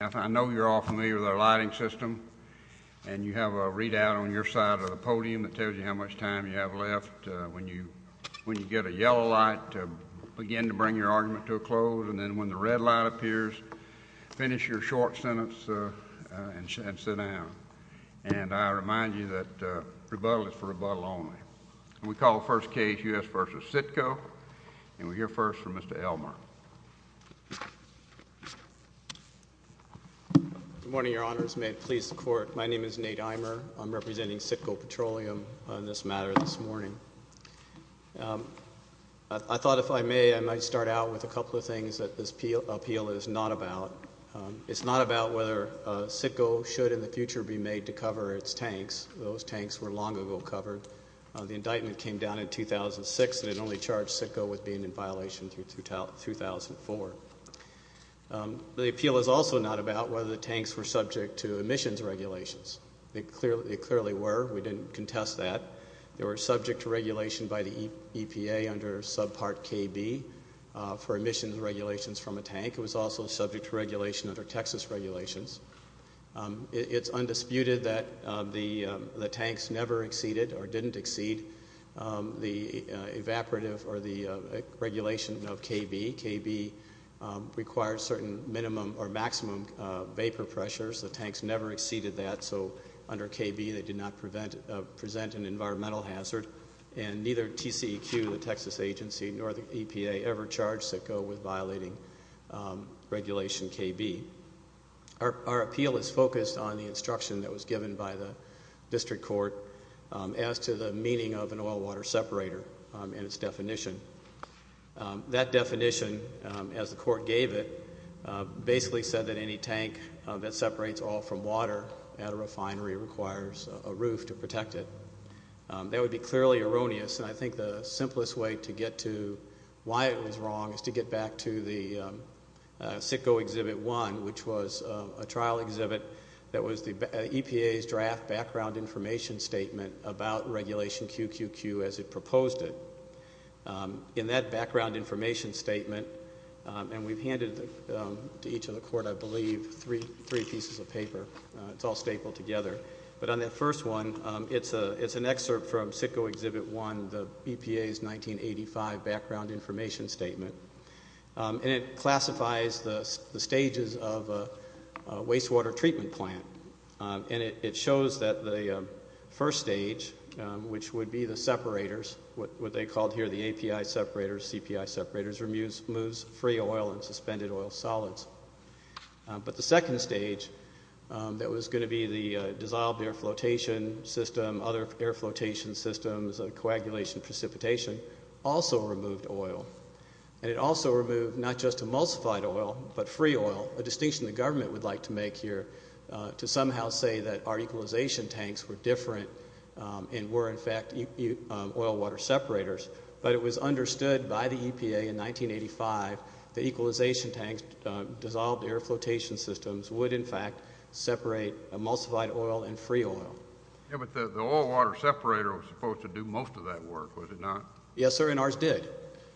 I know you're all familiar with our lighting system, and you have a readout on your side of the podium that tells you how much time you have left when you get a yellow light to begin to bring your argument to a close, and then when the red light appears, finish your short sentence and sit down. And I remind you that rebuttal is for rebuttal only. We call the first case U.S. v. CITGO, and we'll hear first from Mr. Elmer. Good morning, Your Honors. May it please the Court, my name is Nate Eimer. I'm representing CITGO Petroleum on this matter this morning. I thought if I may, I might start out with a couple of things that this appeal is not about. It's not about whether CITGO should in the future be made to cover its tanks. Those tanks were long ago covered. The indictment came down in 2006, and it only charged CITGO with being in violation through 2004. The appeal is also not about whether the tanks were subject to emissions regulations. They clearly were. We didn't contest that. They were subject to regulation by the EPA under subpart KB for emissions regulations from a tank. It was also subject to regulation under Texas regulations. It's undisputed that the tanks never exceeded or didn't exceed the evaporative or the regulation of KB. KB requires certain minimum or maximum vapor pressures. The tanks never exceeded that, so under KB they did not present an environmental hazard, and neither TCEQ, the Texas agency, nor the EPA ever charged CITGO with violating regulation KB. Our appeal is focused on the instruction that was given by the district court as to the meaning of an oil-water separator and its definition. That definition, as the court gave it, basically said that any tank that separates oil from water at a refinery requires a roof to protect it. That would be clearly erroneous, and I think the simplest way to get to why it was wrong is to get back to the CITGO Exhibit 1, which was a trial exhibit that was the EPA's draft background information statement about regulation QQQ as it proposed it. In that background information statement, and we've handed to each of the court, I believe, three pieces of paper. It's all stapled together. But on that first one, it's an excerpt from CITGO Exhibit 1, the EPA's 1985 background information statement, and it classifies the stages of a wastewater treatment plant. It shows that the first stage, which would be the separators, what they called here the API separators, CPI separators, removes free oil and suspended oil solids. But the second stage that was going to be the dissolved air flotation system, other air flotation systems, coagulation, precipitation, also removed oil. And it also removed not just emulsified oil but free oil, a distinction the government would like to make here, to somehow say that our equalization tanks were different and were, in fact, oil water separators. But it was understood by the EPA in 1985 that equalization tanks, dissolved air flotation systems, would, in fact, separate emulsified oil and free oil. Yeah, but the oil water separator was supposed to do most of that work, was it not? Yes, sir, and ours did.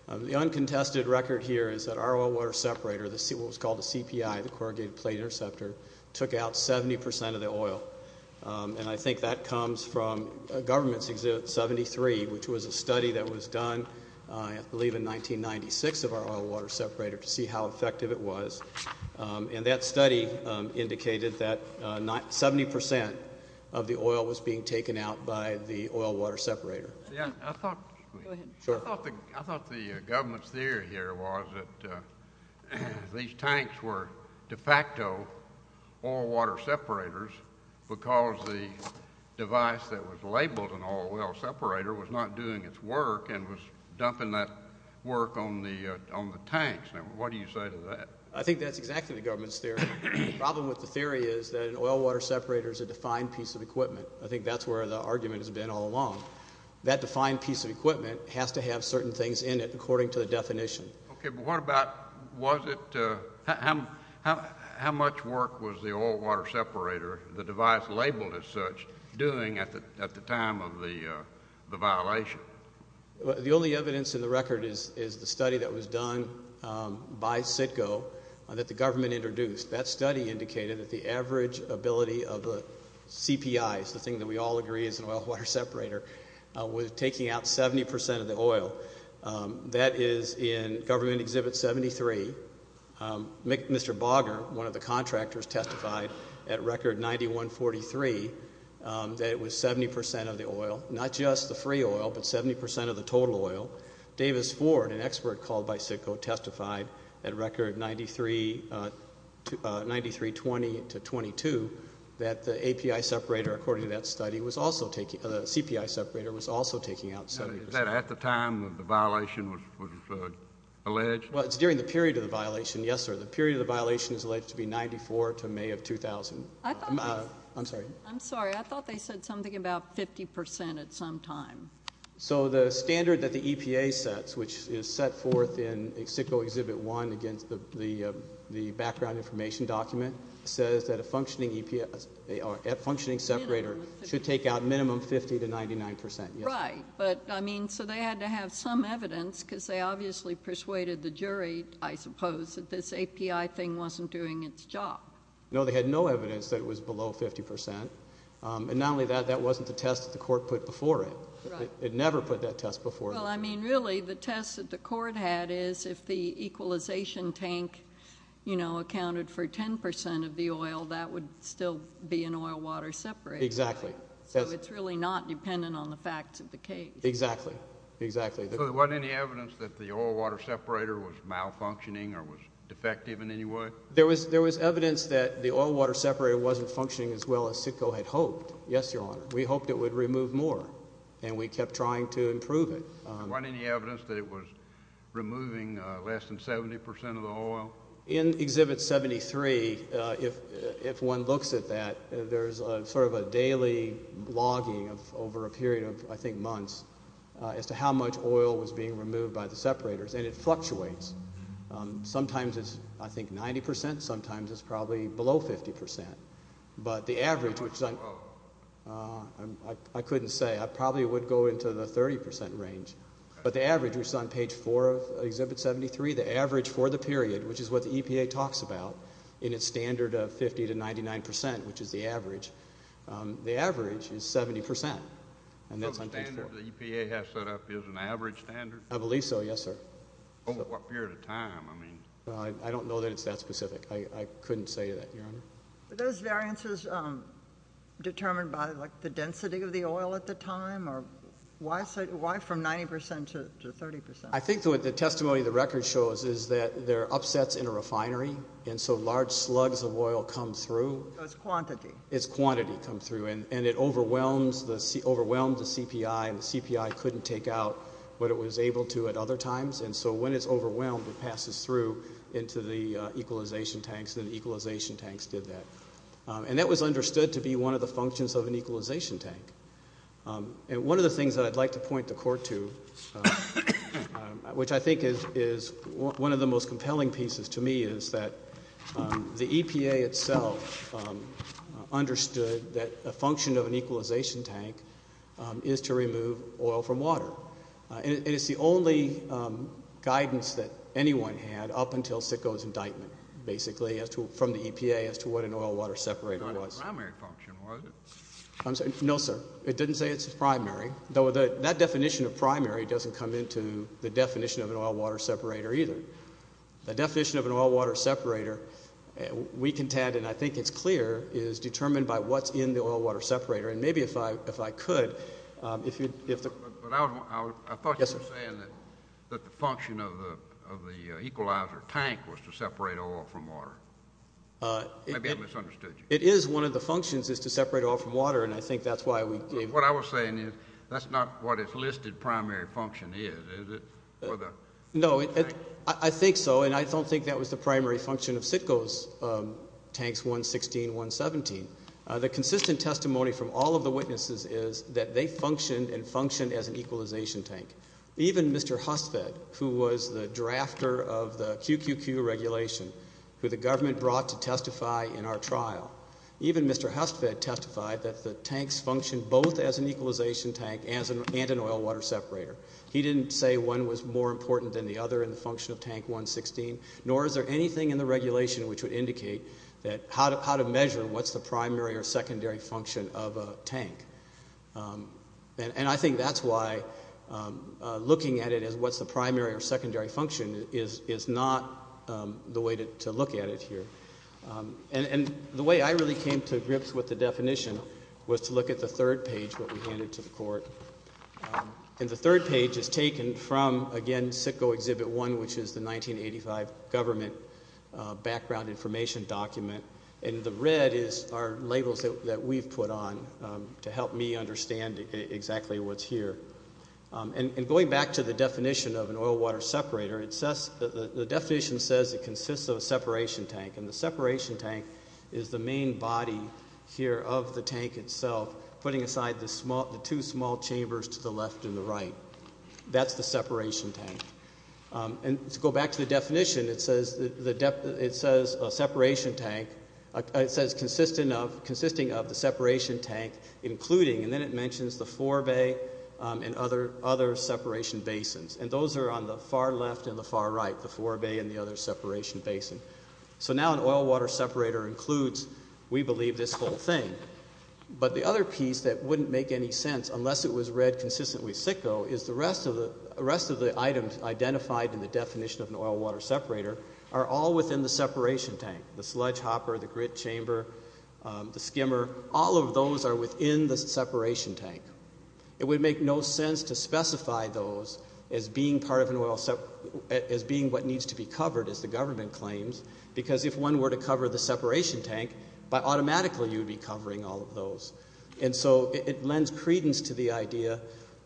The uncontested record here is that our oil water separator, what was called a CPI, the corrugated plate interceptor, took out 70% of the oil. And I think that comes from a government's exhibit 73, which was a study that was done, I believe, in 1996 of our oil water separator to see how effective it was. And that study indicated that 70% of the oil was being taken out by the oil water separator. I thought the government's theory here was that these tanks were de facto oil water separators because the device that was labeled an oil water separator was not doing its work and was dumping that work on the tanks. Now, what do you say to that? I think that's exactly the government's theory. The problem with the theory is that an oil water separator is a defined piece of equipment. I think that's where the argument has been all along. That defined piece of equipment has to have certain things in it according to the definition. Okay, but what about was it – how much work was the oil water separator, the device labeled as such, doing at the time of the violation? The only evidence in the record is the study that was done by CITGO that the government introduced. That study indicated that the average ability of the CPIs, the thing that we all agree is an oil water separator, was taking out 70% of the oil. That is in Government Exhibit 73. Mr. Bogger, one of the contractors, testified at Record 9143 that it was 70% of the oil, not just the free oil, but 70% of the total oil. Davis Ford, an expert called by CITGO, testified at Record 9320-22 that the CPI separator was also taking out 70%. Is that at the time the violation was alleged? Well, it's during the period of the violation, yes, sir. The period of the violation is alleged to be 94 to May of 2000. I'm sorry. I'm sorry. I thought they said something about 50% at some time. So the standard that the EPA sets, which is set forth in CITGO Exhibit 1 against the background information document, says that a functioning separator should take out minimum 50 to 99%. Right. But, I mean, so they had to have some evidence because they obviously persuaded the jury, I suppose, that this API thing wasn't doing its job. No, they had no evidence that it was below 50%. And not only that, that wasn't the test that the court put before it. Right. It never put that test before it. Well, I mean, really the test that the court had is if the equalization tank, you know, accounted for 10% of the oil, that would still be an oil-water separator. Exactly. So it's really not dependent on the facts of the case. Exactly. Exactly. So there wasn't any evidence that the oil-water separator was malfunctioning or was defective in any way? There was evidence that the oil-water separator wasn't functioning as well as CITGO had hoped. Yes, Your Honor. We hoped it would remove more, and we kept trying to improve it. Was there any evidence that it was removing less than 70% of the oil? In Exhibit 73, if one looks at that, there's sort of a daily logging over a period of, I think, months as to how much oil was being removed by the separators, and it fluctuates. Sometimes it's, I think, 90%. Sometimes it's probably below 50%. But the average, which I couldn't say. I probably would go into the 30% range. But the average, which is on Page 4 of Exhibit 73, the average for the period, which is what the EPA talks about in its standard of 50% to 99%, which is the average, the average is 70%. The standard the EPA has set up is an average standard? I believe so, yes, sir. Over what period of time? I don't know that it's that specific. I couldn't say that, Your Honor. Were those variances determined by, like, the density of the oil at the time? Or why from 90% to 30%? I think what the testimony of the record shows is that there are upsets in a refinery, and so large slugs of oil come through. So it's quantity. It's quantity come through. And it overwhelms the CPI, and the CPI couldn't take out what it was able to at other times. And so when it's overwhelmed, it passes through into the equalization tanks, and the equalization tanks did that. And that was understood to be one of the functions of an equalization tank. And one of the things that I'd like to point the Court to, which I think is one of the most compelling pieces to me, is that the EPA itself understood that a function of an equalization tank is to remove oil from water. And it's the only guidance that anyone had up until Sicko's indictment, basically, from the EPA as to what an oil-water separator was. It wasn't a primary function, was it? No, sir. It didn't say it's a primary. That definition of primary doesn't come into the definition of an oil-water separator either. The definition of an oil-water separator, we contend, and I think it's clear, is determined by what's in the oil-water separator. And maybe if I could, if you'd – But I thought you were saying that the function of the equalizer tank was to separate oil from water. Maybe I misunderstood you. It is one of the functions is to separate oil from water, and I think that's why we gave – But what I was saying is that's not what its listed primary function is, is it? No, I think so, and I don't think that was the primary function of Sicko's tanks 116, 117. The consistent testimony from all of the witnesses is that they functioned and functioned as an equalization tank. Even Mr. Hustvedt, who was the drafter of the QQQ regulation, who the government brought to testify in our trial, even Mr. Hustvedt testified that the tanks functioned both as an equalization tank and an oil-water separator. He didn't say one was more important than the other in the function of tank 116, nor is there anything in the regulation which would indicate how to measure what's the primary or secondary function of a tank. And I think that's why looking at it as what's the primary or secondary function is not the way to look at it here. And the way I really came to grips with the definition was to look at the third page, what we handed to the court. And the third page is taken from, again, Sicko Exhibit 1, which is the 1985 government background information document, and the red are labels that we've put on to help me understand exactly what's here. And going back to the definition of an oil-water separator, the definition says it consists of a separation tank, and the separation tank is the main body here of the tank itself, putting aside the two small chambers to the left and the right. That's the separation tank. And to go back to the definition, it says a separation tank, it says consisting of the separation tank including, and then it mentions the forebay and other separation basins. And those are on the far left and the far right, the forebay and the other separation basin. So now an oil-water separator includes, we believe, this whole thing. But the other piece that wouldn't make any sense, unless it was read consistently sicko, is the rest of the items identified in the definition of an oil-water separator are all within the separation tank. The sludge hopper, the grit chamber, the skimmer, all of those are within the separation tank. It would make no sense to specify those as being part of an oil, as being what needs to be covered, as the government claims, because if one were to cover the separation tank, automatically you would be covering all of those. And so it lends credence to the idea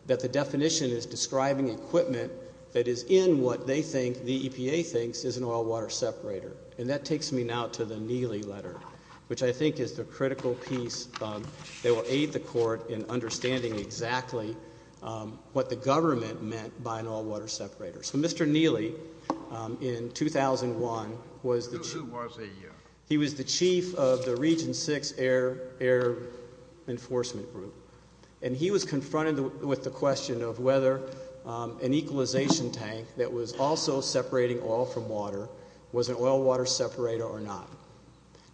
that the definition is describing equipment that is in what they think, the EPA thinks, is an oil-water separator. And that takes me now to the Neely letter, which I think is the critical piece that will aid the court in understanding exactly what the government meant by an oil-water separator. So Mr. Neely, in 2001, was the chief of the Region 6 Air Enforcement Group, and he was confronted with the question of whether an equalization tank that was also separating oil from water was an oil-water separator or not.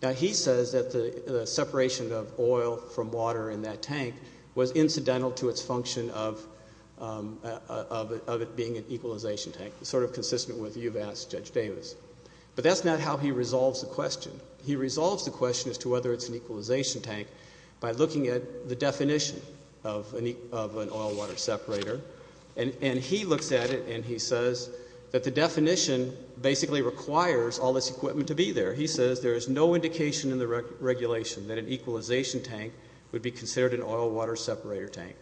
Now, he says that the separation of oil from water in that tank was incidental to its function of it being an equalization tank, sort of consistent with what you've asked, Judge Davis. But that's not how he resolves the question. He resolves the question as to whether it's an equalization tank by looking at the definition of an oil-water separator. And he looks at it and he says that the definition basically requires all this equipment to be there. He says there is no indication in the regulation that an equalization tank would be considered an oil-water separator tank.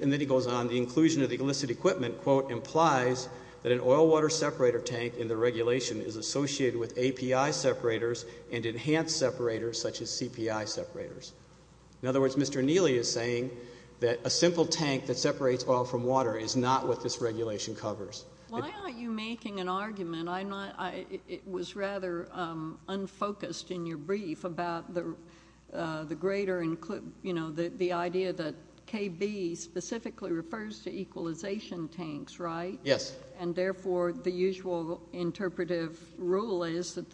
And then he goes on, the inclusion of the illicit equipment, quote, implies that an oil-water separator tank in the regulation is associated with API separators and enhanced separators such as CPI separators. In other words, Mr. Neely is saying that a simple tank that separates oil from water is not what this regulation covers. Why aren't you making an argument? It was rather unfocused in your brief about the idea that KB specifically refers to equalization tanks, right? Yes. And therefore, the usual interpretive rule is that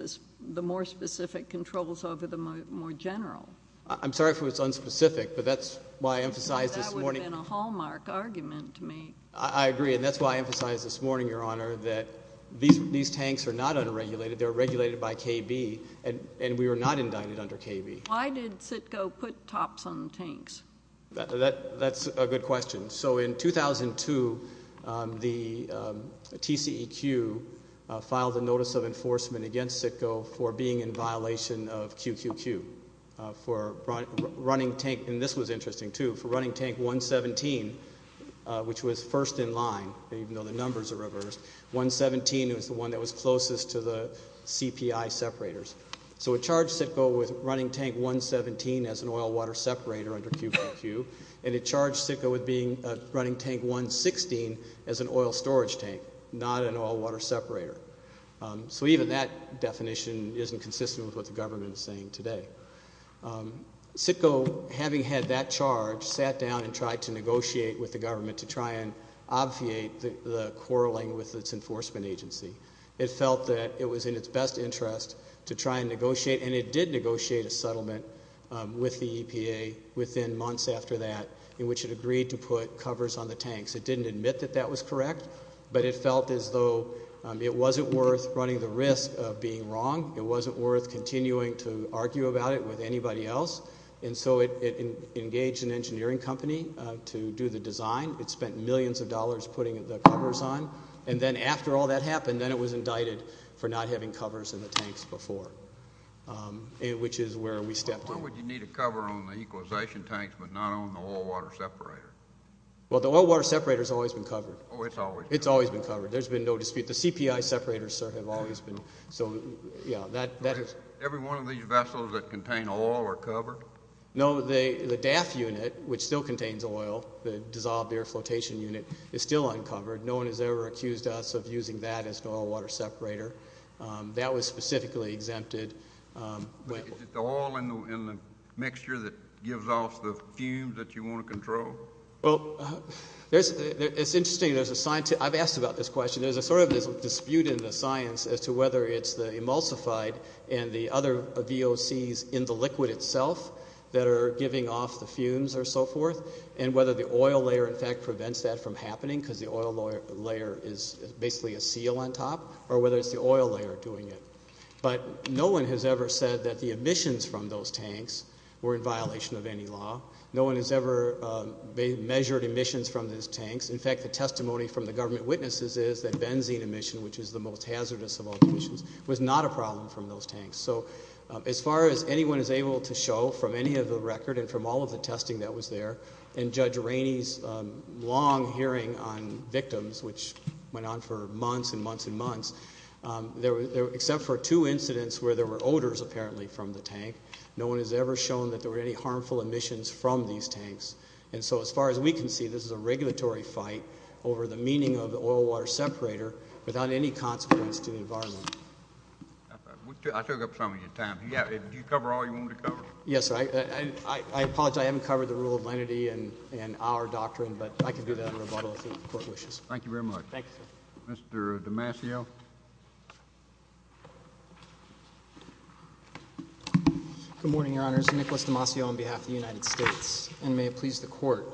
the more specific controls over the more general. I'm sorry if it was unspecific, but that's why I emphasized this morning. That would have been a hallmark argument to make. I agree, and that's why I emphasized this morning, Your Honor, that these tanks are not unregulated. They're regulated by KB, and we were not indicted under KB. Why did CITCO put tops on the tanks? That's a good question. So in 2002, the TCEQ filed a notice of enforcement against CITCO for being in violation of QQQ for running tank, and this was interesting too, for running tank 117, which was first in line, even though the numbers are reversed. 117 was the one that was closest to the CPI separators. So it charged CITCO with running tank 117 as an oil-water separator under QQQ, and it charged CITCO with running tank 116 as an oil-storage tank, not an oil-water separator. So even that definition isn't consistent with what the government is saying today. CITCO, having had that charge, sat down and tried to negotiate with the government to try and obviate the quarreling with its enforcement agency. It felt that it was in its best interest to try and negotiate, and it did negotiate a settlement with the EPA within months after that, in which it agreed to put covers on the tanks. It didn't admit that that was correct, but it felt as though it wasn't worth running the risk of being wrong. It wasn't worth continuing to argue about it with anybody else. And so it engaged an engineering company to do the design. It spent millions of dollars putting the covers on. And then after all that happened, then it was indicted for not having covers in the tanks before, which is where we stepped in. Why would you need a cover on the equalization tanks but not on the oil-water separator? Well, the oil-water separator has always been covered. Oh, it's always been covered. It's always been covered. There's been no dispute. The CPI separators, sir, have always been. Every one of these vessels that contain oil are covered? No, the DAF unit, which still contains oil, the dissolved air flotation unit, is still uncovered. No one has ever accused us of using that as an oil-water separator. That was specifically exempted. Is it the oil in the mixture that gives off the fumes that you want to control? Well, it's interesting. I've asked about this question. There's a sort of dispute in the science as to whether it's the emulsified and the other VOCs in the liquid itself that are giving off the fumes or so forth and whether the oil layer, in fact, prevents that from happening because the oil layer is basically a seal on top or whether it's the oil layer doing it. But no one has ever said that the emissions from those tanks were in violation of any law. No one has ever measured emissions from those tanks. In fact, the testimony from the government witnesses is that benzene emission, which is the most hazardous of all emissions, was not a problem from those tanks. So as far as anyone is able to show from any of the record and from all of the testing that was there and Judge Rainey's long hearing on victims, which went on for months and months and months, except for two incidents where there were odors apparently from the tank, no one has ever shown that there were any harmful emissions from these tanks. And so as far as we can see, this is a regulatory fight over the meaning of the oil-water separator without any consequence to the environment. I took up some of your time. Did you cover all you wanted to cover? Yes, sir. I apologize. I haven't covered the rule of lenity and our doctrine, but I can do that in rebuttal if the Court wishes. Thank you very much. Thank you, sir. Mr. DiMasio. Good morning, Your Honors. Nicholas DiMasio on behalf of the United States, and may it please the Court.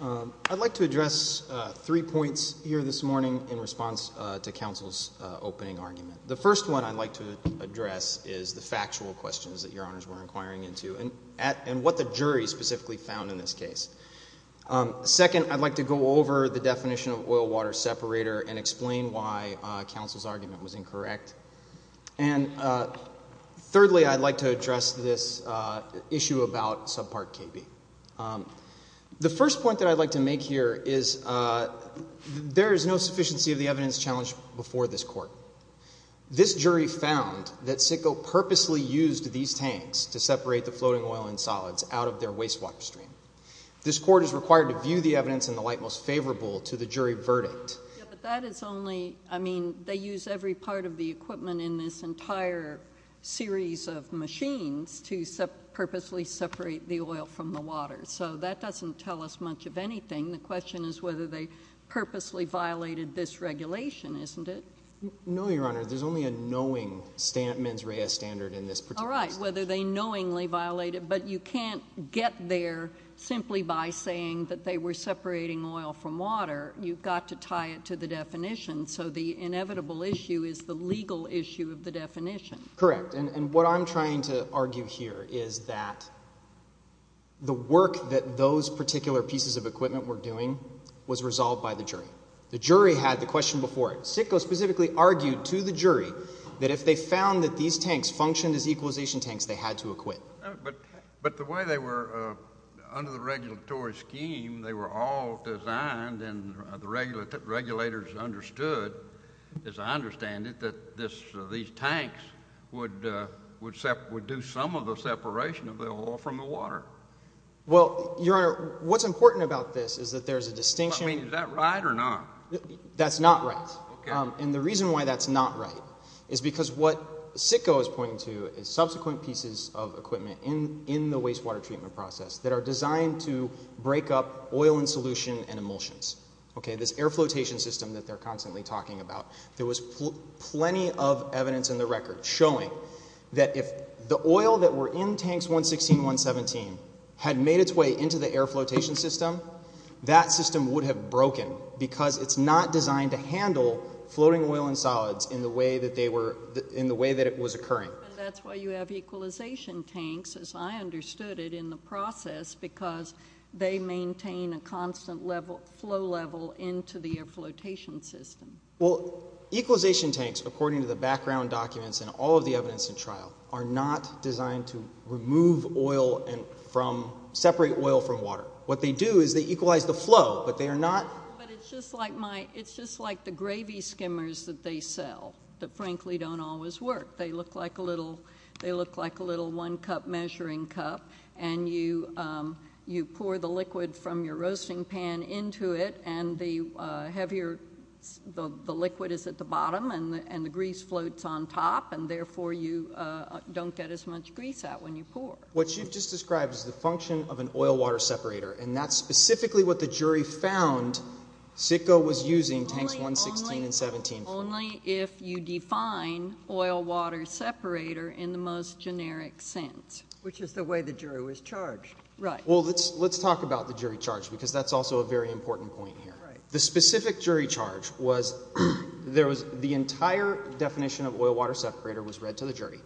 I'd like to address three points here this morning in response to counsel's opening argument. The first one I'd like to address is the factual questions that Your Honors were inquiring into and what the jury specifically found in this case. Second, I'd like to go over the definition of oil-water separator and explain why counsel's argument was incorrect. And thirdly, I'd like to address this issue about subpart KB. The first point that I'd like to make here is there is no sufficiency of the evidence challenged before this Court. This jury found that Sitko purposely used these tanks to separate the floating oil and solids out of their wastewater stream. This Court is required to view the evidence in the light most favorable to the jury verdict. But that is only, I mean, they use every part of the equipment in this entire series of machines to purposely separate the oil from the water. So that doesn't tell us much of anything. The question is whether they purposely violated this regulation, isn't it? No, Your Honor. There's only a knowing mens rea standard in this particular case. All right. Whether they knowingly violated. But you can't get there simply by saying that they were separating oil from water. You've got to tie it to the definition. So the inevitable issue is the legal issue of the definition. Correct. And what I'm trying to argue here is that the work that those particular pieces of equipment were doing was resolved by the jury. The jury had the question before it. Sitko specifically argued to the jury that if they found that these tanks functioned as equalization tanks, they had to acquit. But the way they were under the regulatory scheme, they were all designed and the regulators understood, as I understand it, that these tanks would do some of the separation of the oil from the water. Well, Your Honor, what's important about this is that there's a distinction. I mean, is that right or not? That's not right. And the reason why that's not right is because what Sitko is pointing to is subsequent pieces of equipment in the wastewater treatment process that are designed to break up oil and solution and emulsions. This air flotation system that they're constantly talking about. There was plenty of evidence in the record showing that if the oil that were in Tanks 116 and 117 had made its way into the air flotation system, that system would have broken because it's not designed to handle floating oil and solids in the way that it was occurring. That's why you have equalization tanks, as I understood it, in the process, because they maintain a constant flow level into the air flotation system. Well, equalization tanks, according to the background documents and all of the evidence in trial, are not designed to remove oil and separate oil from water. What they do is they equalize the flow, but they are not. But it's just like the gravy skimmers that they sell that frankly don't always work. They look like a little one-cup measuring cup, and you pour the liquid from your roasting pan into it, and the liquid is at the bottom and the grease floats on top, and therefore you don't get as much grease out when you pour. What you've just described is the function of an oil-water separator, and that's specifically what the jury found Sitko was using Tanks 116 and 117 for. Only if you define oil-water separator in the most generic sense. Which is the way the jury was charged. Well, let's talk about the jury charge because that's also a very important point here. The specific jury charge was the entire definition of oil-water separator was read to the jury.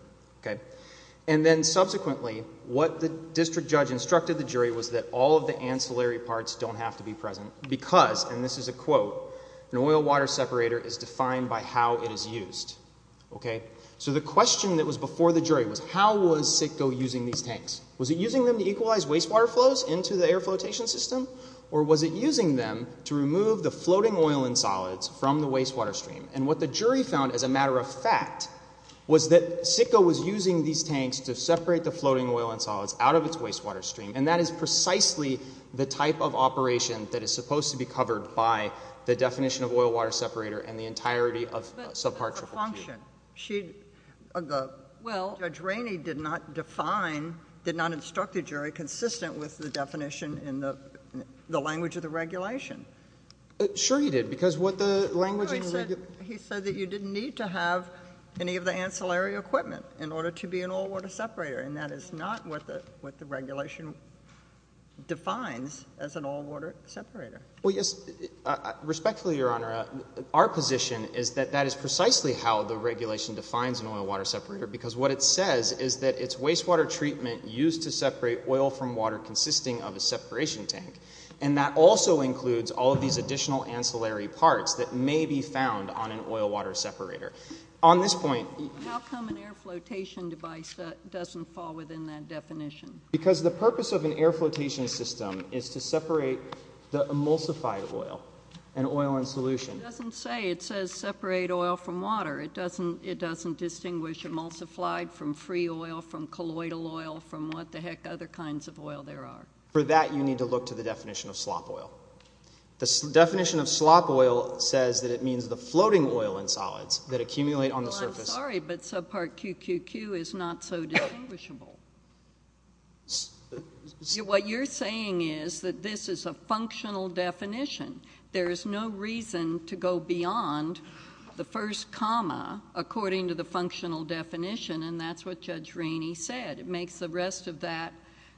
And then subsequently what the district judge instructed the jury was that all of the ancillary parts don't have to be present because, and this is a quote, an oil-water separator is defined by how it is used. So the question that was before the jury was how was Sitko using these tanks? Was it using them to equalize wastewater flows into the air flotation system? Or was it using them to remove the floating oil and solids from the wastewater stream? And what the jury found as a matter of fact was that Sitko was using these tanks to separate the floating oil and solids out of its wastewater stream. And that is precisely the type of operation that is supposed to be covered by the definition of oil-water separator and the entirety of subpart triple Q. But that's a function. Judge Rainey did not define, did not instruct the jury consistent with the definition in the language of the regulation. Sure he did because what the language in the regulation. No, he said that you didn't need to have any of the ancillary equipment in order to be an oil-water separator. And that is not what the regulation defines as an oil-water separator. Well, yes, respectfully, Your Honor, our position is that that is precisely how the regulation defines an oil-water separator because what it says is that it's wastewater treatment used to separate oil from water consisting of a separation tank. And that also includes all of these additional ancillary parts that may be found on an oil-water separator. How come an air flotation device doesn't fall within that definition? Because the purpose of an air flotation system is to separate the emulsified oil, an oil in solution. It doesn't say. It says separate oil from water. It doesn't distinguish emulsified from free oil, from colloidal oil, from what the heck other kinds of oil there are. For that, you need to look to the definition of slop oil. The definition of slop oil says that it means the floating oil in solids that accumulate on the surface. Well, I'm sorry, but subpart QQQ is not so distinguishable. What you're saying is that this is a functional definition. There is no reason to go beyond the first comma according to the functional definition, and that's what Judge Rainey said. It makes the rest of that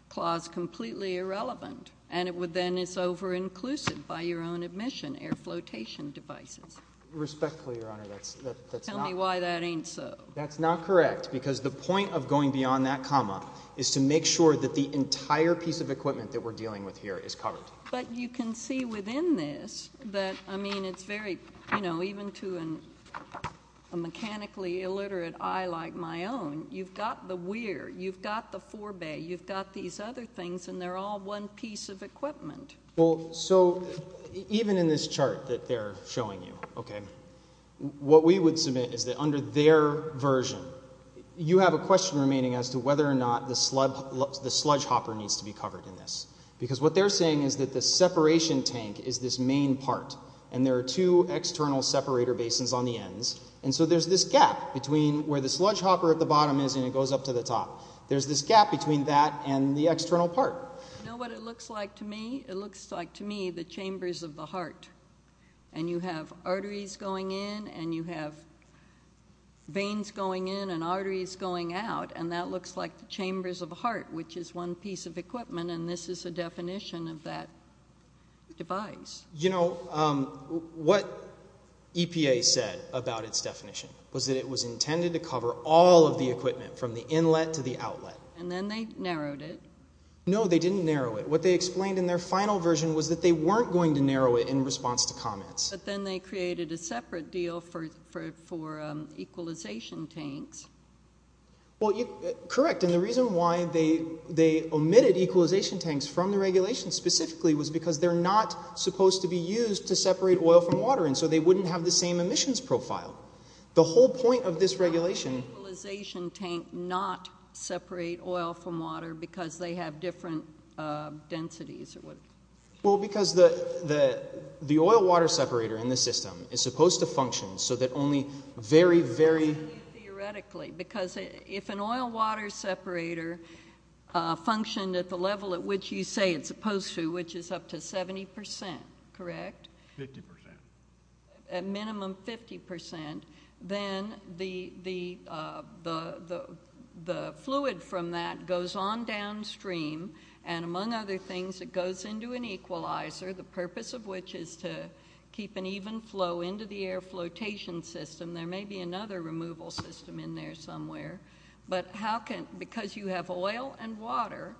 clause completely irrelevant, and then it's over-inclusive by your own admission, air flotation devices. Respectfully, Your Honor, that's not— Tell me why that ain't so. That's not correct because the point of going beyond that comma is to make sure that the entire piece of equipment that we're dealing with here is covered. But you can see within this that, I mean, it's very, you know, even to a mechanically illiterate eye like my own, you've got the where. You've got the forebay. You've got these other things, and they're all one piece of equipment. Well, so even in this chart that they're showing you, okay, what we would submit is that under their version, you have a question remaining as to whether or not the sludge hopper needs to be covered in this because what they're saying is that the separation tank is this main part, and there are two external separator basins on the ends, and so there's this gap between where the sludge hopper at the bottom is and it goes up to the top. There's this gap between that and the external part. You know what it looks like to me? It looks like to me the chambers of the heart, and you have arteries going in, and you have veins going in and arteries going out, and that looks like the chambers of the heart, which is one piece of equipment, and this is a definition of that device. You know, what EPA said about its definition was that it was intended to cover all of the equipment from the inlet to the outlet. And then they narrowed it. No, they didn't narrow it. What they explained in their final version was that they weren't going to narrow it in response to comments. But then they created a separate deal for equalization tanks. Well, correct, and the reason why they omitted equalization tanks from the regulation specifically was because they're not supposed to be used to separate oil from water, and so they wouldn't have the same emissions profile. The whole point of this regulation— Why would an equalization tank not separate oil from water because they have different densities? Well, because the oil-water separator in the system is supposed to function so that only very, very— Because if an oil-water separator functioned at the level at which you say it's supposed to, which is up to 70%, correct? Fifty percent. At minimum 50%, then the fluid from that goes on downstream, and among other things, it goes into an equalizer, the purpose of which is to keep an even flow into the air flotation system. There may be another removal system in there somewhere, but because you have oil and water,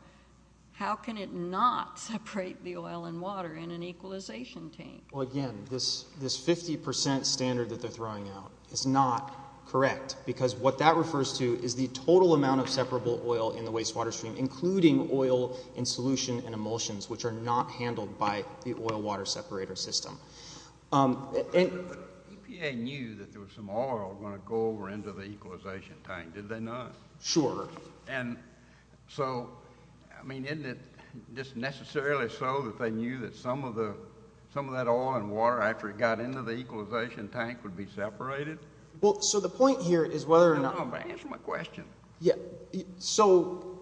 how can it not separate the oil and water in an equalization tank? Well, again, this 50% standard that they're throwing out is not correct because what that refers to is the total amount of separable oil in the wastewater stream, including oil in solution and emulsions, which are not handled by the oil-water separator system. EPA knew that there was some oil going to go over into the equalization tank, did they not? Sure. And so, I mean, isn't it just necessarily so that they knew that some of that oil and water, after it got into the equalization tank, would be separated? Well, so the point here is whether or not— Answer my question. Yeah, so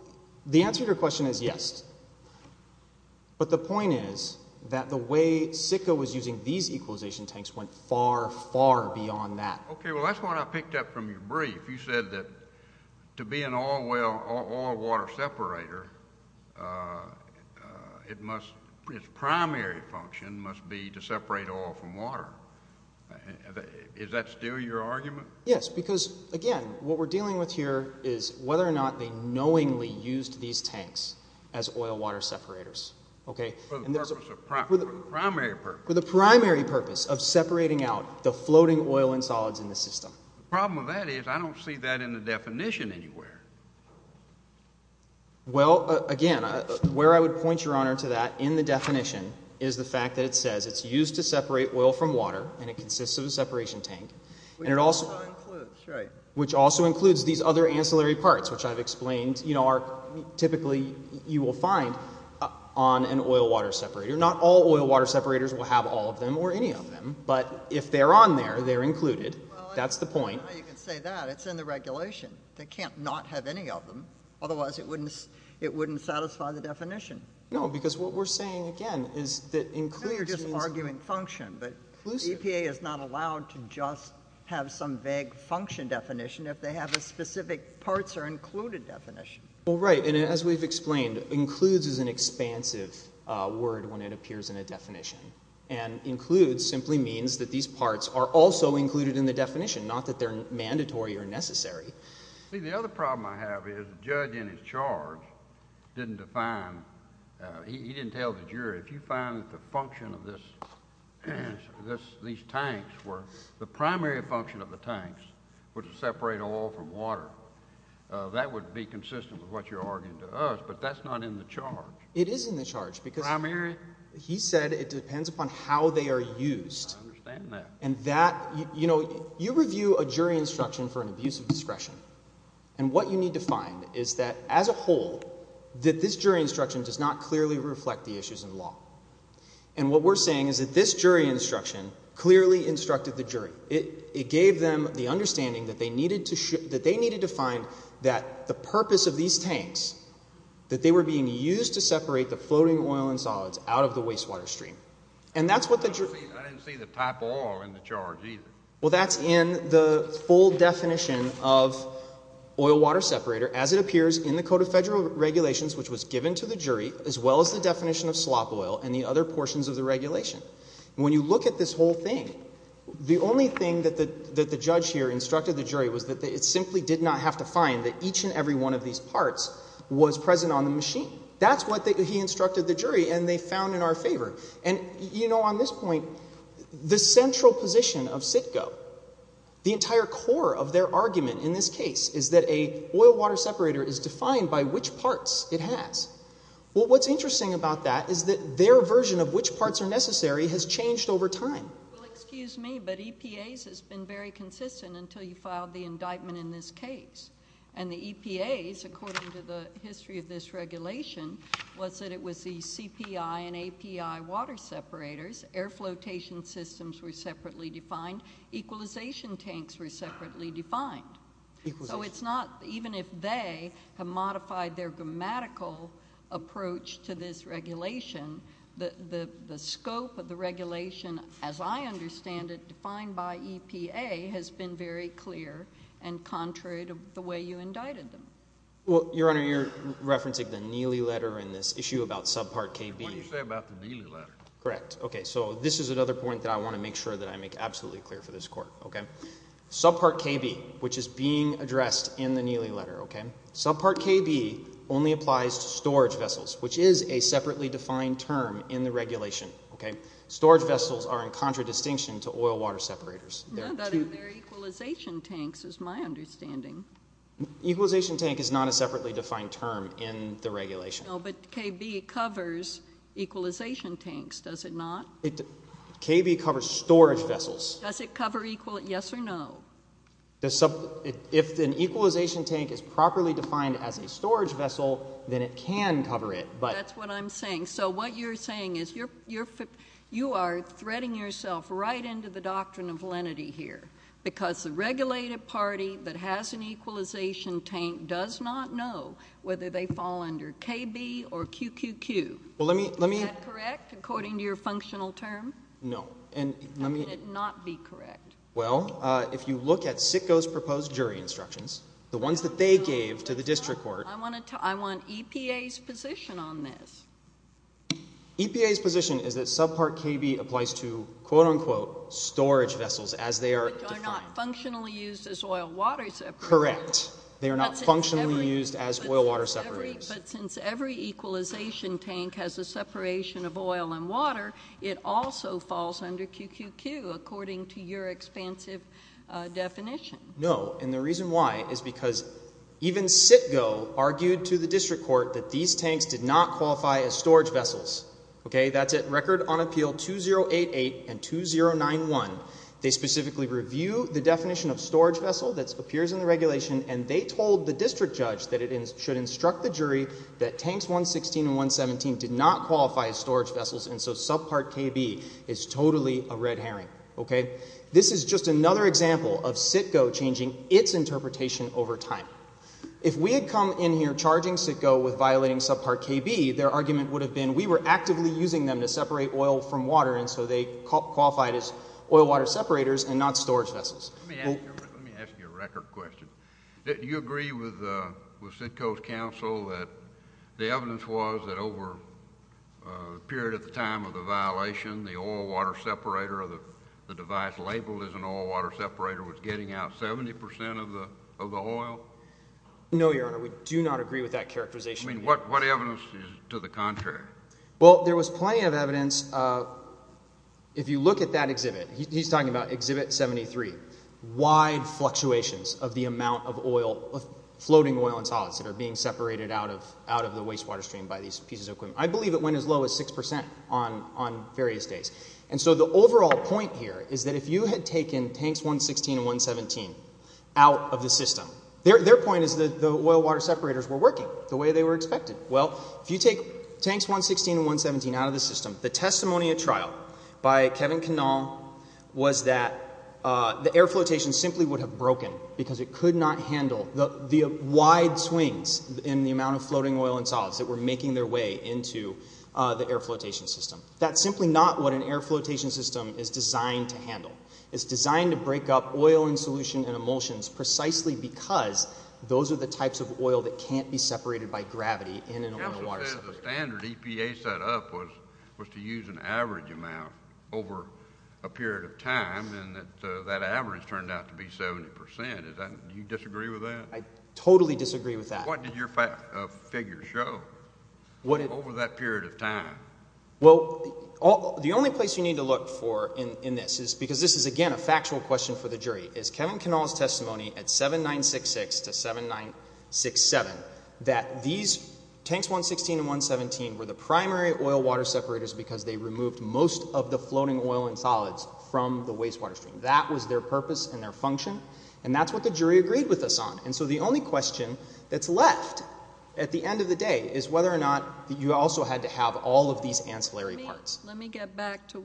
the answer to your question is yes, but the point is that the way SICA was using these equalization tanks went far, far beyond that. Okay, well, that's what I picked up from your brief. You said that to be an oil-water separator, its primary function must be to separate oil from water. Is that still your argument? Yes, because, again, what we're dealing with here is whether or not they knowingly used these tanks as oil-water separators. For the primary purpose. For the primary purpose of separating out the floating oil and solids in the system. The problem with that is I don't see that in the definition anywhere. Well, again, where I would point, Your Honor, to that in the definition is the fact that it says it's used to separate oil from water and it consists of a separation tank. Which also includes, right. Which also includes these other ancillary parts, which I've explained are typically you will find on an oil-water separator. Not all oil-water separators will have all of them or any of them, but if they're on there, they're included. That's the point. Well, I don't know how you can say that. It's in the regulation. They can't not have any of them. Otherwise, it wouldn't satisfy the definition. No, because what we're saying, again, is that includes— EPA is not allowed to just have some vague function definition if they have a specific parts or included definition. Well, right. And as we've explained, includes is an expansive word when it appears in a definition. And includes simply means that these parts are also included in the definition, not that they're mandatory or necessary. See, the other problem I have is the judge in his charge didn't define—he didn't tell the jury. He said if you find that the function of this—these tanks were—the primary function of the tanks was to separate oil from water, that would be consistent with what you're arguing to us, but that's not in the charge. It is in the charge because— Primary? He said it depends upon how they are used. I understand that. And what you need to find is that as a whole that this jury instruction does not clearly reflect the issues in law. And what we're saying is that this jury instruction clearly instructed the jury. It gave them the understanding that they needed to find that the purpose of these tanks, that they were being used to separate the floating oil and solids out of the wastewater stream. And that's what the jury— I didn't see the type of oil in the charge either. Well, that's in the full definition of oil-water separator as it appears in the Code of Federal Regulations, which was given to the jury, as well as the definition of slop oil and the other portions of the regulation. When you look at this whole thing, the only thing that the judge here instructed the jury was that it simply did not have to find that each and every one of these parts was present on the machine. That's what he instructed the jury, and they found in our favor. And, you know, on this point, the central position of CITGO, the entire core of their argument in this case, is that an oil-water separator is defined by which parts it has. Well, what's interesting about that is that their version of which parts are necessary has changed over time. Well, excuse me, but EPA's has been very consistent until you filed the indictment in this case. And the EPA's, according to the history of this regulation, was that it was the CPI and API water separators. Air flotation systems were separately defined. Equalization tanks were separately defined. So it's not, even if they have modified their grammatical approach to this regulation, the scope of the regulation, as I understand it, defined by EPA, has been very clear and contrary to the way you indicted them. Well, Your Honor, you're referencing the Neely letter and this issue about subpart KB. What did you say about the Neely letter? Correct. Okay, so this is another point that I want to make sure that I make absolutely clear for this court, okay? Subpart KB, which is being addressed in the Neely letter, okay? Subpart KB only applies to storage vessels, which is a separately defined term in the regulation, okay? Storage vessels are in contradistinction to oil water separators. No, but in their equalization tanks, is my understanding. Equalization tank is not a separately defined term in the regulation. No, but KB covers equalization tanks, does it not? KB covers storage vessels. Does it cover equal, yes or no? If an equalization tank is properly defined as a storage vessel, then it can cover it. That's what I'm saying. So what you're saying is you are threading yourself right into the doctrine of lenity here because the regulated party that has an equalization tank does not know whether they fall under KB or QQQ. Is that correct, according to your functional term? No. How can it not be correct? Well, if you look at CITGO's proposed jury instructions, the ones that they gave to the district court. I want EPA's position on this. EPA's position is that subpart KB applies to, quote, unquote, storage vessels as they are defined. Which are not functionally used as oil water separators. Correct. They are not functionally used as oil water separators. But since every equalization tank has a separation of oil and water, it also falls under QQQ, according to your expansive definition. No. And the reason why is because even CITGO argued to the district court that these tanks did not qualify as storage vessels. Okay? That's it. Record on appeal 2088 and 2091. They specifically review the definition of storage vessel that appears in the regulation, and they told the district judge that it should instruct the jury that tanks 116 and 117 did not qualify as storage vessels, and so subpart KB is totally a red herring. Okay? This is just another example of CITGO changing its interpretation over time. If we had come in here charging CITGO with violating subpart KB, their argument would have been we were actively using them to separate oil from water, and so they qualified as oil water separators and not storage vessels. Let me ask you a record question. Do you agree with CITGO's counsel that the evidence was that over a period of time of the violation, the oil water separator or the device labeled as an oil water separator was getting out 70% of the oil? No, Your Honor. We do not agree with that characterization. What evidence is to the contrary? Well, there was plenty of evidence. If you look at that exhibit, he's talking about exhibit 73, wide fluctuations of the amount of oil, of floating oil and solids that are being separated out of the wastewater stream by these pieces of equipment. I believe it went as low as 6% on various days, and so the overall point here is that if you had taken tanks 116 and 117 out of the system, their point is that the oil water separators were working the way they were expected. Well, if you take tanks 116 and 117 out of the system, the testimony at trial by Kevin Cannell was that the air flotation simply would have broken because it could not handle the wide swings in the amount of floating oil and solids that were making their way into the air flotation system. That's simply not what an air flotation system is designed to handle. It's designed to break up oil and solution and emulsions precisely because those are the types of oil that can't be separated by gravity in an oil and water separator. The standard EPA set up was to use an average amount over a period of time, and that average turned out to be 70%. Do you disagree with that? I totally disagree with that. What did your figure show over that period of time? Well, the only place you need to look for in this is because this is, again, a factual question for the jury. It's Kevin Cannell's testimony at 7966 to 7967 that these tanks 116 and 117 were the primary oil-water separators because they removed most of the floating oil and solids from the wastewater stream. That was their purpose and their function, and that's what the jury agreed with us on. And so the only question that's left at the end of the day is whether or not you also had to have all of these ancillary parts. Let me get back to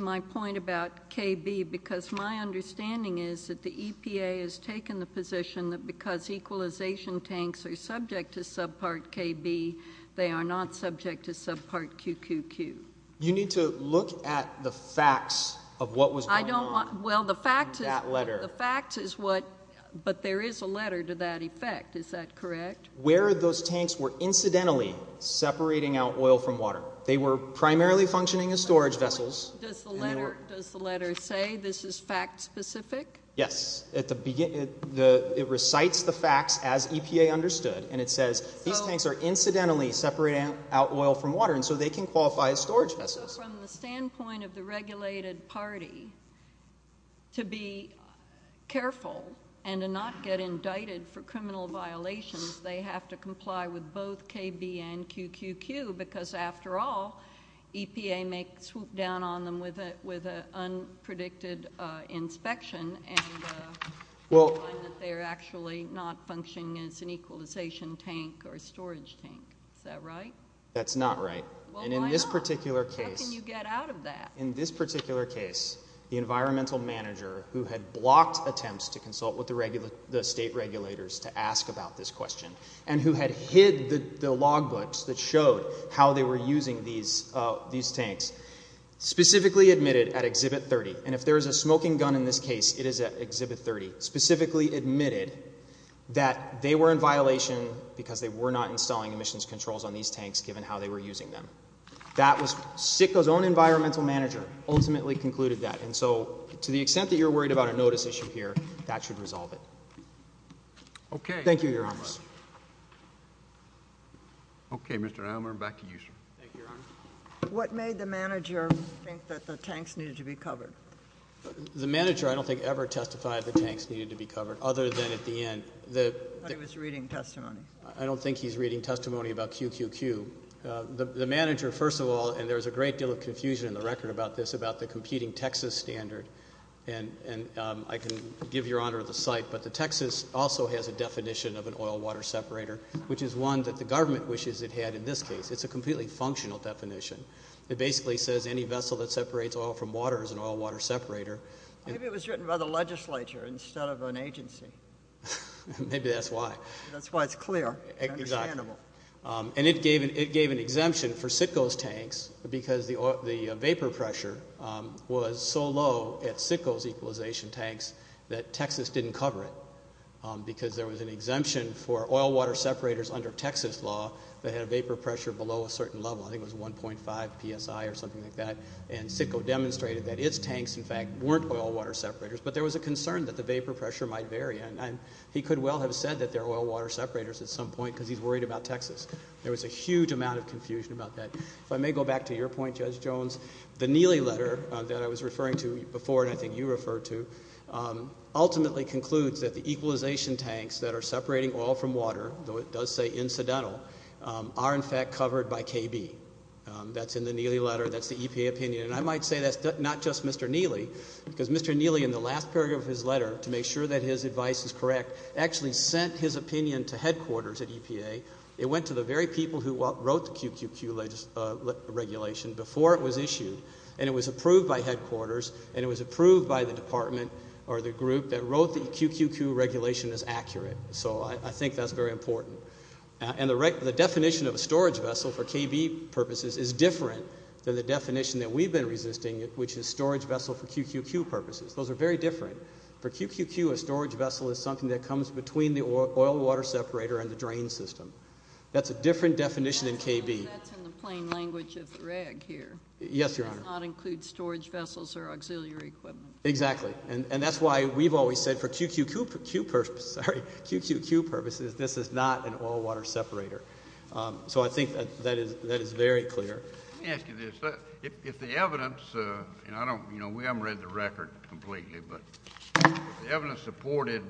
my point about KB because my understanding is that the EPA has taken the position that because equalization tanks are subject to subpart KB, they are not subject to subpart QQQ. You need to look at the facts of what was going on in that letter. Well, the fact is what, but there is a letter to that effect. Is that correct? Where those tanks were incidentally separating out oil from water. They were primarily functioning as storage vessels. Does the letter say this is fact-specific? Yes. It recites the facts as EPA understood, and it says these tanks are incidentally separating out oil from water, and so they can qualify as storage vessels. So from the standpoint of the regulated party, to be careful and to not get indicted for criminal violations, they have to comply with both KB and QQQ because, after all, EPA may swoop down on them with an unpredicted inspection and find that they are actually not functioning as an equalization tank or a storage tank. Is that right? That's not right. Well, why not? How can you get out of that? In this particular case, the environmental manager who had blocked attempts to consult with the state regulators to ask about this question and who had hid the log books that showed how they were using these tanks, specifically admitted at Exhibit 30, and if there is a smoking gun in this case, it is at Exhibit 30, specifically admitted that they were in violation because they were not installing emissions controls on these tanks given how they were using them. That was SICKO's own environmental manager ultimately concluded that, and so to the extent that you're worried about a notice issue here, that should resolve it. Okay. Thank you, Your Honor. Okay, Mr. Aylmer, back to you, sir. Thank you, Your Honor. What made the manager think that the tanks needed to be covered? The manager, I don't think, ever testified the tanks needed to be covered other than at the end. But he was reading testimony. I don't think he's reading testimony about QQQ. The manager, first of all, and there's a great deal of confusion in the record about this, about the competing Texas standard, and I can give Your Honor the cite, but the Texas also has a definition of an oil-water separator, which is one that the government wishes it had in this case. It's a completely functional definition. It basically says any vessel that separates oil from water is an oil-water separator. Maybe it was written by the legislature instead of an agency. Maybe that's why. That's why it's clear and understandable. Exactly. And it gave an exemption for Citgo's tanks because the vapor pressure was so low at Citgo's equalization tanks that Texas didn't cover it because there was an exemption for oil-water separators under Texas law that had a vapor pressure below a certain level. I think it was 1.5 psi or something like that, and Citgo demonstrated that its tanks, in fact, weren't oil-water separators. But there was a concern that the vapor pressure might vary, and he could well have said that they're oil-water separators at some point because he's worried about Texas. There was a huge amount of confusion about that. If I may go back to your point, Judge Jones, the Neely letter that I was referring to before, and I think you referred to, ultimately concludes that the equalization tanks that are separating oil from water, though it does say incidental, are, in fact, covered by KB. That's in the Neely letter. That's the EPA opinion, and I might say that's not just Mr. Neely because Mr. Neely, in the last paragraph of his letter, to make sure that his advice is correct, actually sent his opinion to headquarters at EPA. It went to the very people who wrote the QQQ regulation before it was issued, and it was approved by headquarters, and it was approved by the department or the group that wrote the QQQ regulation as accurate. So I think that's very important. And the definition of a storage vessel for KB purposes is different than the definition that we've been resisting, which is storage vessel for QQQ purposes. Those are very different. For QQQ, a storage vessel is something that comes between the oil-water separator and the drain system. That's a different definition in KB. That's in the plain language of the reg here. Yes, Your Honor. It does not include storage vessels or auxiliary equipment. Exactly, and that's why we've always said for QQQ purposes, this is not an oil-water separator. So I think that is very clear. Let me ask you this. If the evidence, and we haven't read the record completely, but if the evidence supported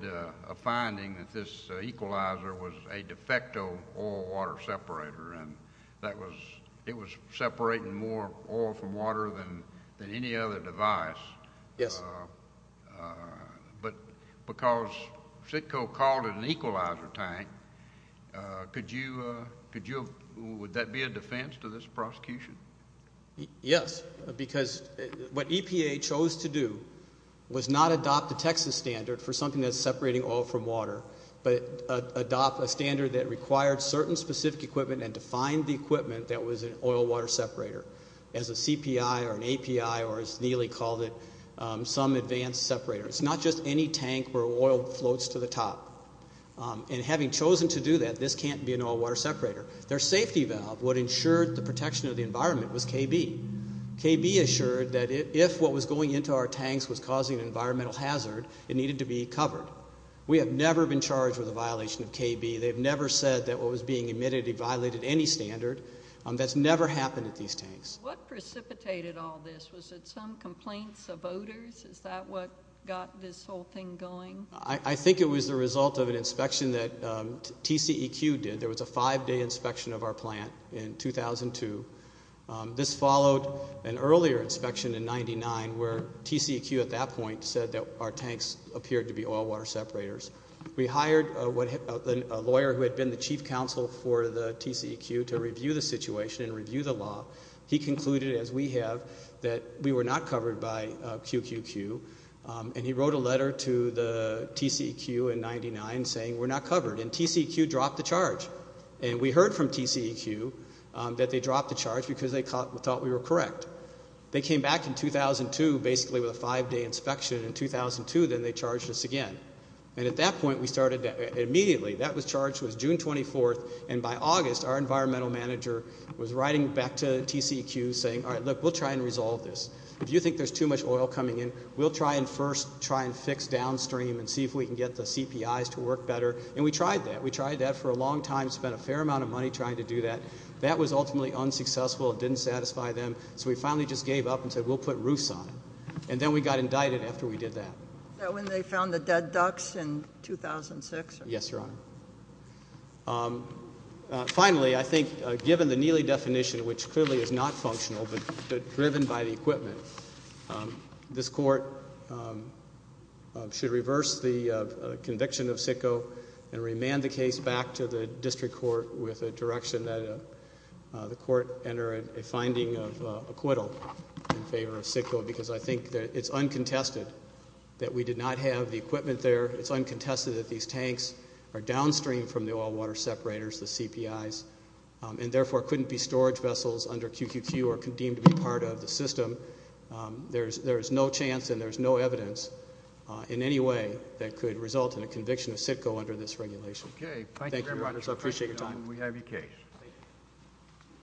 a finding that this equalizer was a de facto oil-water separator and it was separating more oil from water than any other device, but because CITCO called it an equalizer tank, would that be a defense to this prosecution? Yes, because what EPA chose to do was not adopt the Texas standard for something that's separating oil from water, but adopt a standard that required certain specific equipment and defined the equipment that was an oil-water separator as a CPI or an API or as Neely called it, some advanced separator. It's not just any tank where oil floats to the top. And having chosen to do that, this can't be an oil-water separator. Their safety valve, what ensured the protection of the environment, was KB. KB assured that if what was going into our tanks was causing an environmental hazard, it needed to be covered. We have never been charged with a violation of KB. They've never said that what was being emitted violated any standard. That's never happened at these tanks. What precipitated all this? Was it some complaints of odors? Is that what got this whole thing going? I think it was the result of an inspection that TCEQ did. There was a five-day inspection of our plant in 2002. This followed an earlier inspection in 1999 where TCEQ at that point said that our tanks appeared to be oil-water separators. We hired a lawyer who had been the chief counsel for the TCEQ to review the situation and review the law. He concluded, as we have, that we were not covered by QQQ. He wrote a letter to the TCEQ in 1999 saying we're not covered. TCEQ dropped the charge. We heard from TCEQ that they dropped the charge because they thought we were correct. They came back in 2002 basically with a five-day inspection. In 2002, then, they charged us again. At that point, we started immediately. That charge was June 24th. By August, our environmental manager was writing back to TCEQ saying, all right, look, we'll try and resolve this. If you think there's too much oil coming in, we'll try and first try and fix downstream and see if we can get the CPIs to work better. And we tried that. We tried that for a long time, spent a fair amount of money trying to do that. That was ultimately unsuccessful. It didn't satisfy them. So we finally just gave up and said we'll put roofs on it. And then we got indicted after we did that. Was that when they found the dead ducks in 2006? Yes, Your Honor. Finally, I think given the Neely definition, which clearly is not functional but driven by the equipment, this court should reverse the conviction of SITCO and remand the case back to the district court with a direction that the court enter a finding of acquittal in favor of SITCO because I think it's uncontested that we did not have the equipment there. It's uncontested that these tanks are downstream from the oil water separators, the CPIs, and therefore couldn't be storage vessels under QQQ or deemed to be part of the system. There is no chance and there is no evidence in any way that could result in a conviction of SITCO under this regulation. Okay. Thank you very much. Thank you, Your Honor. I appreciate your time. We have your case.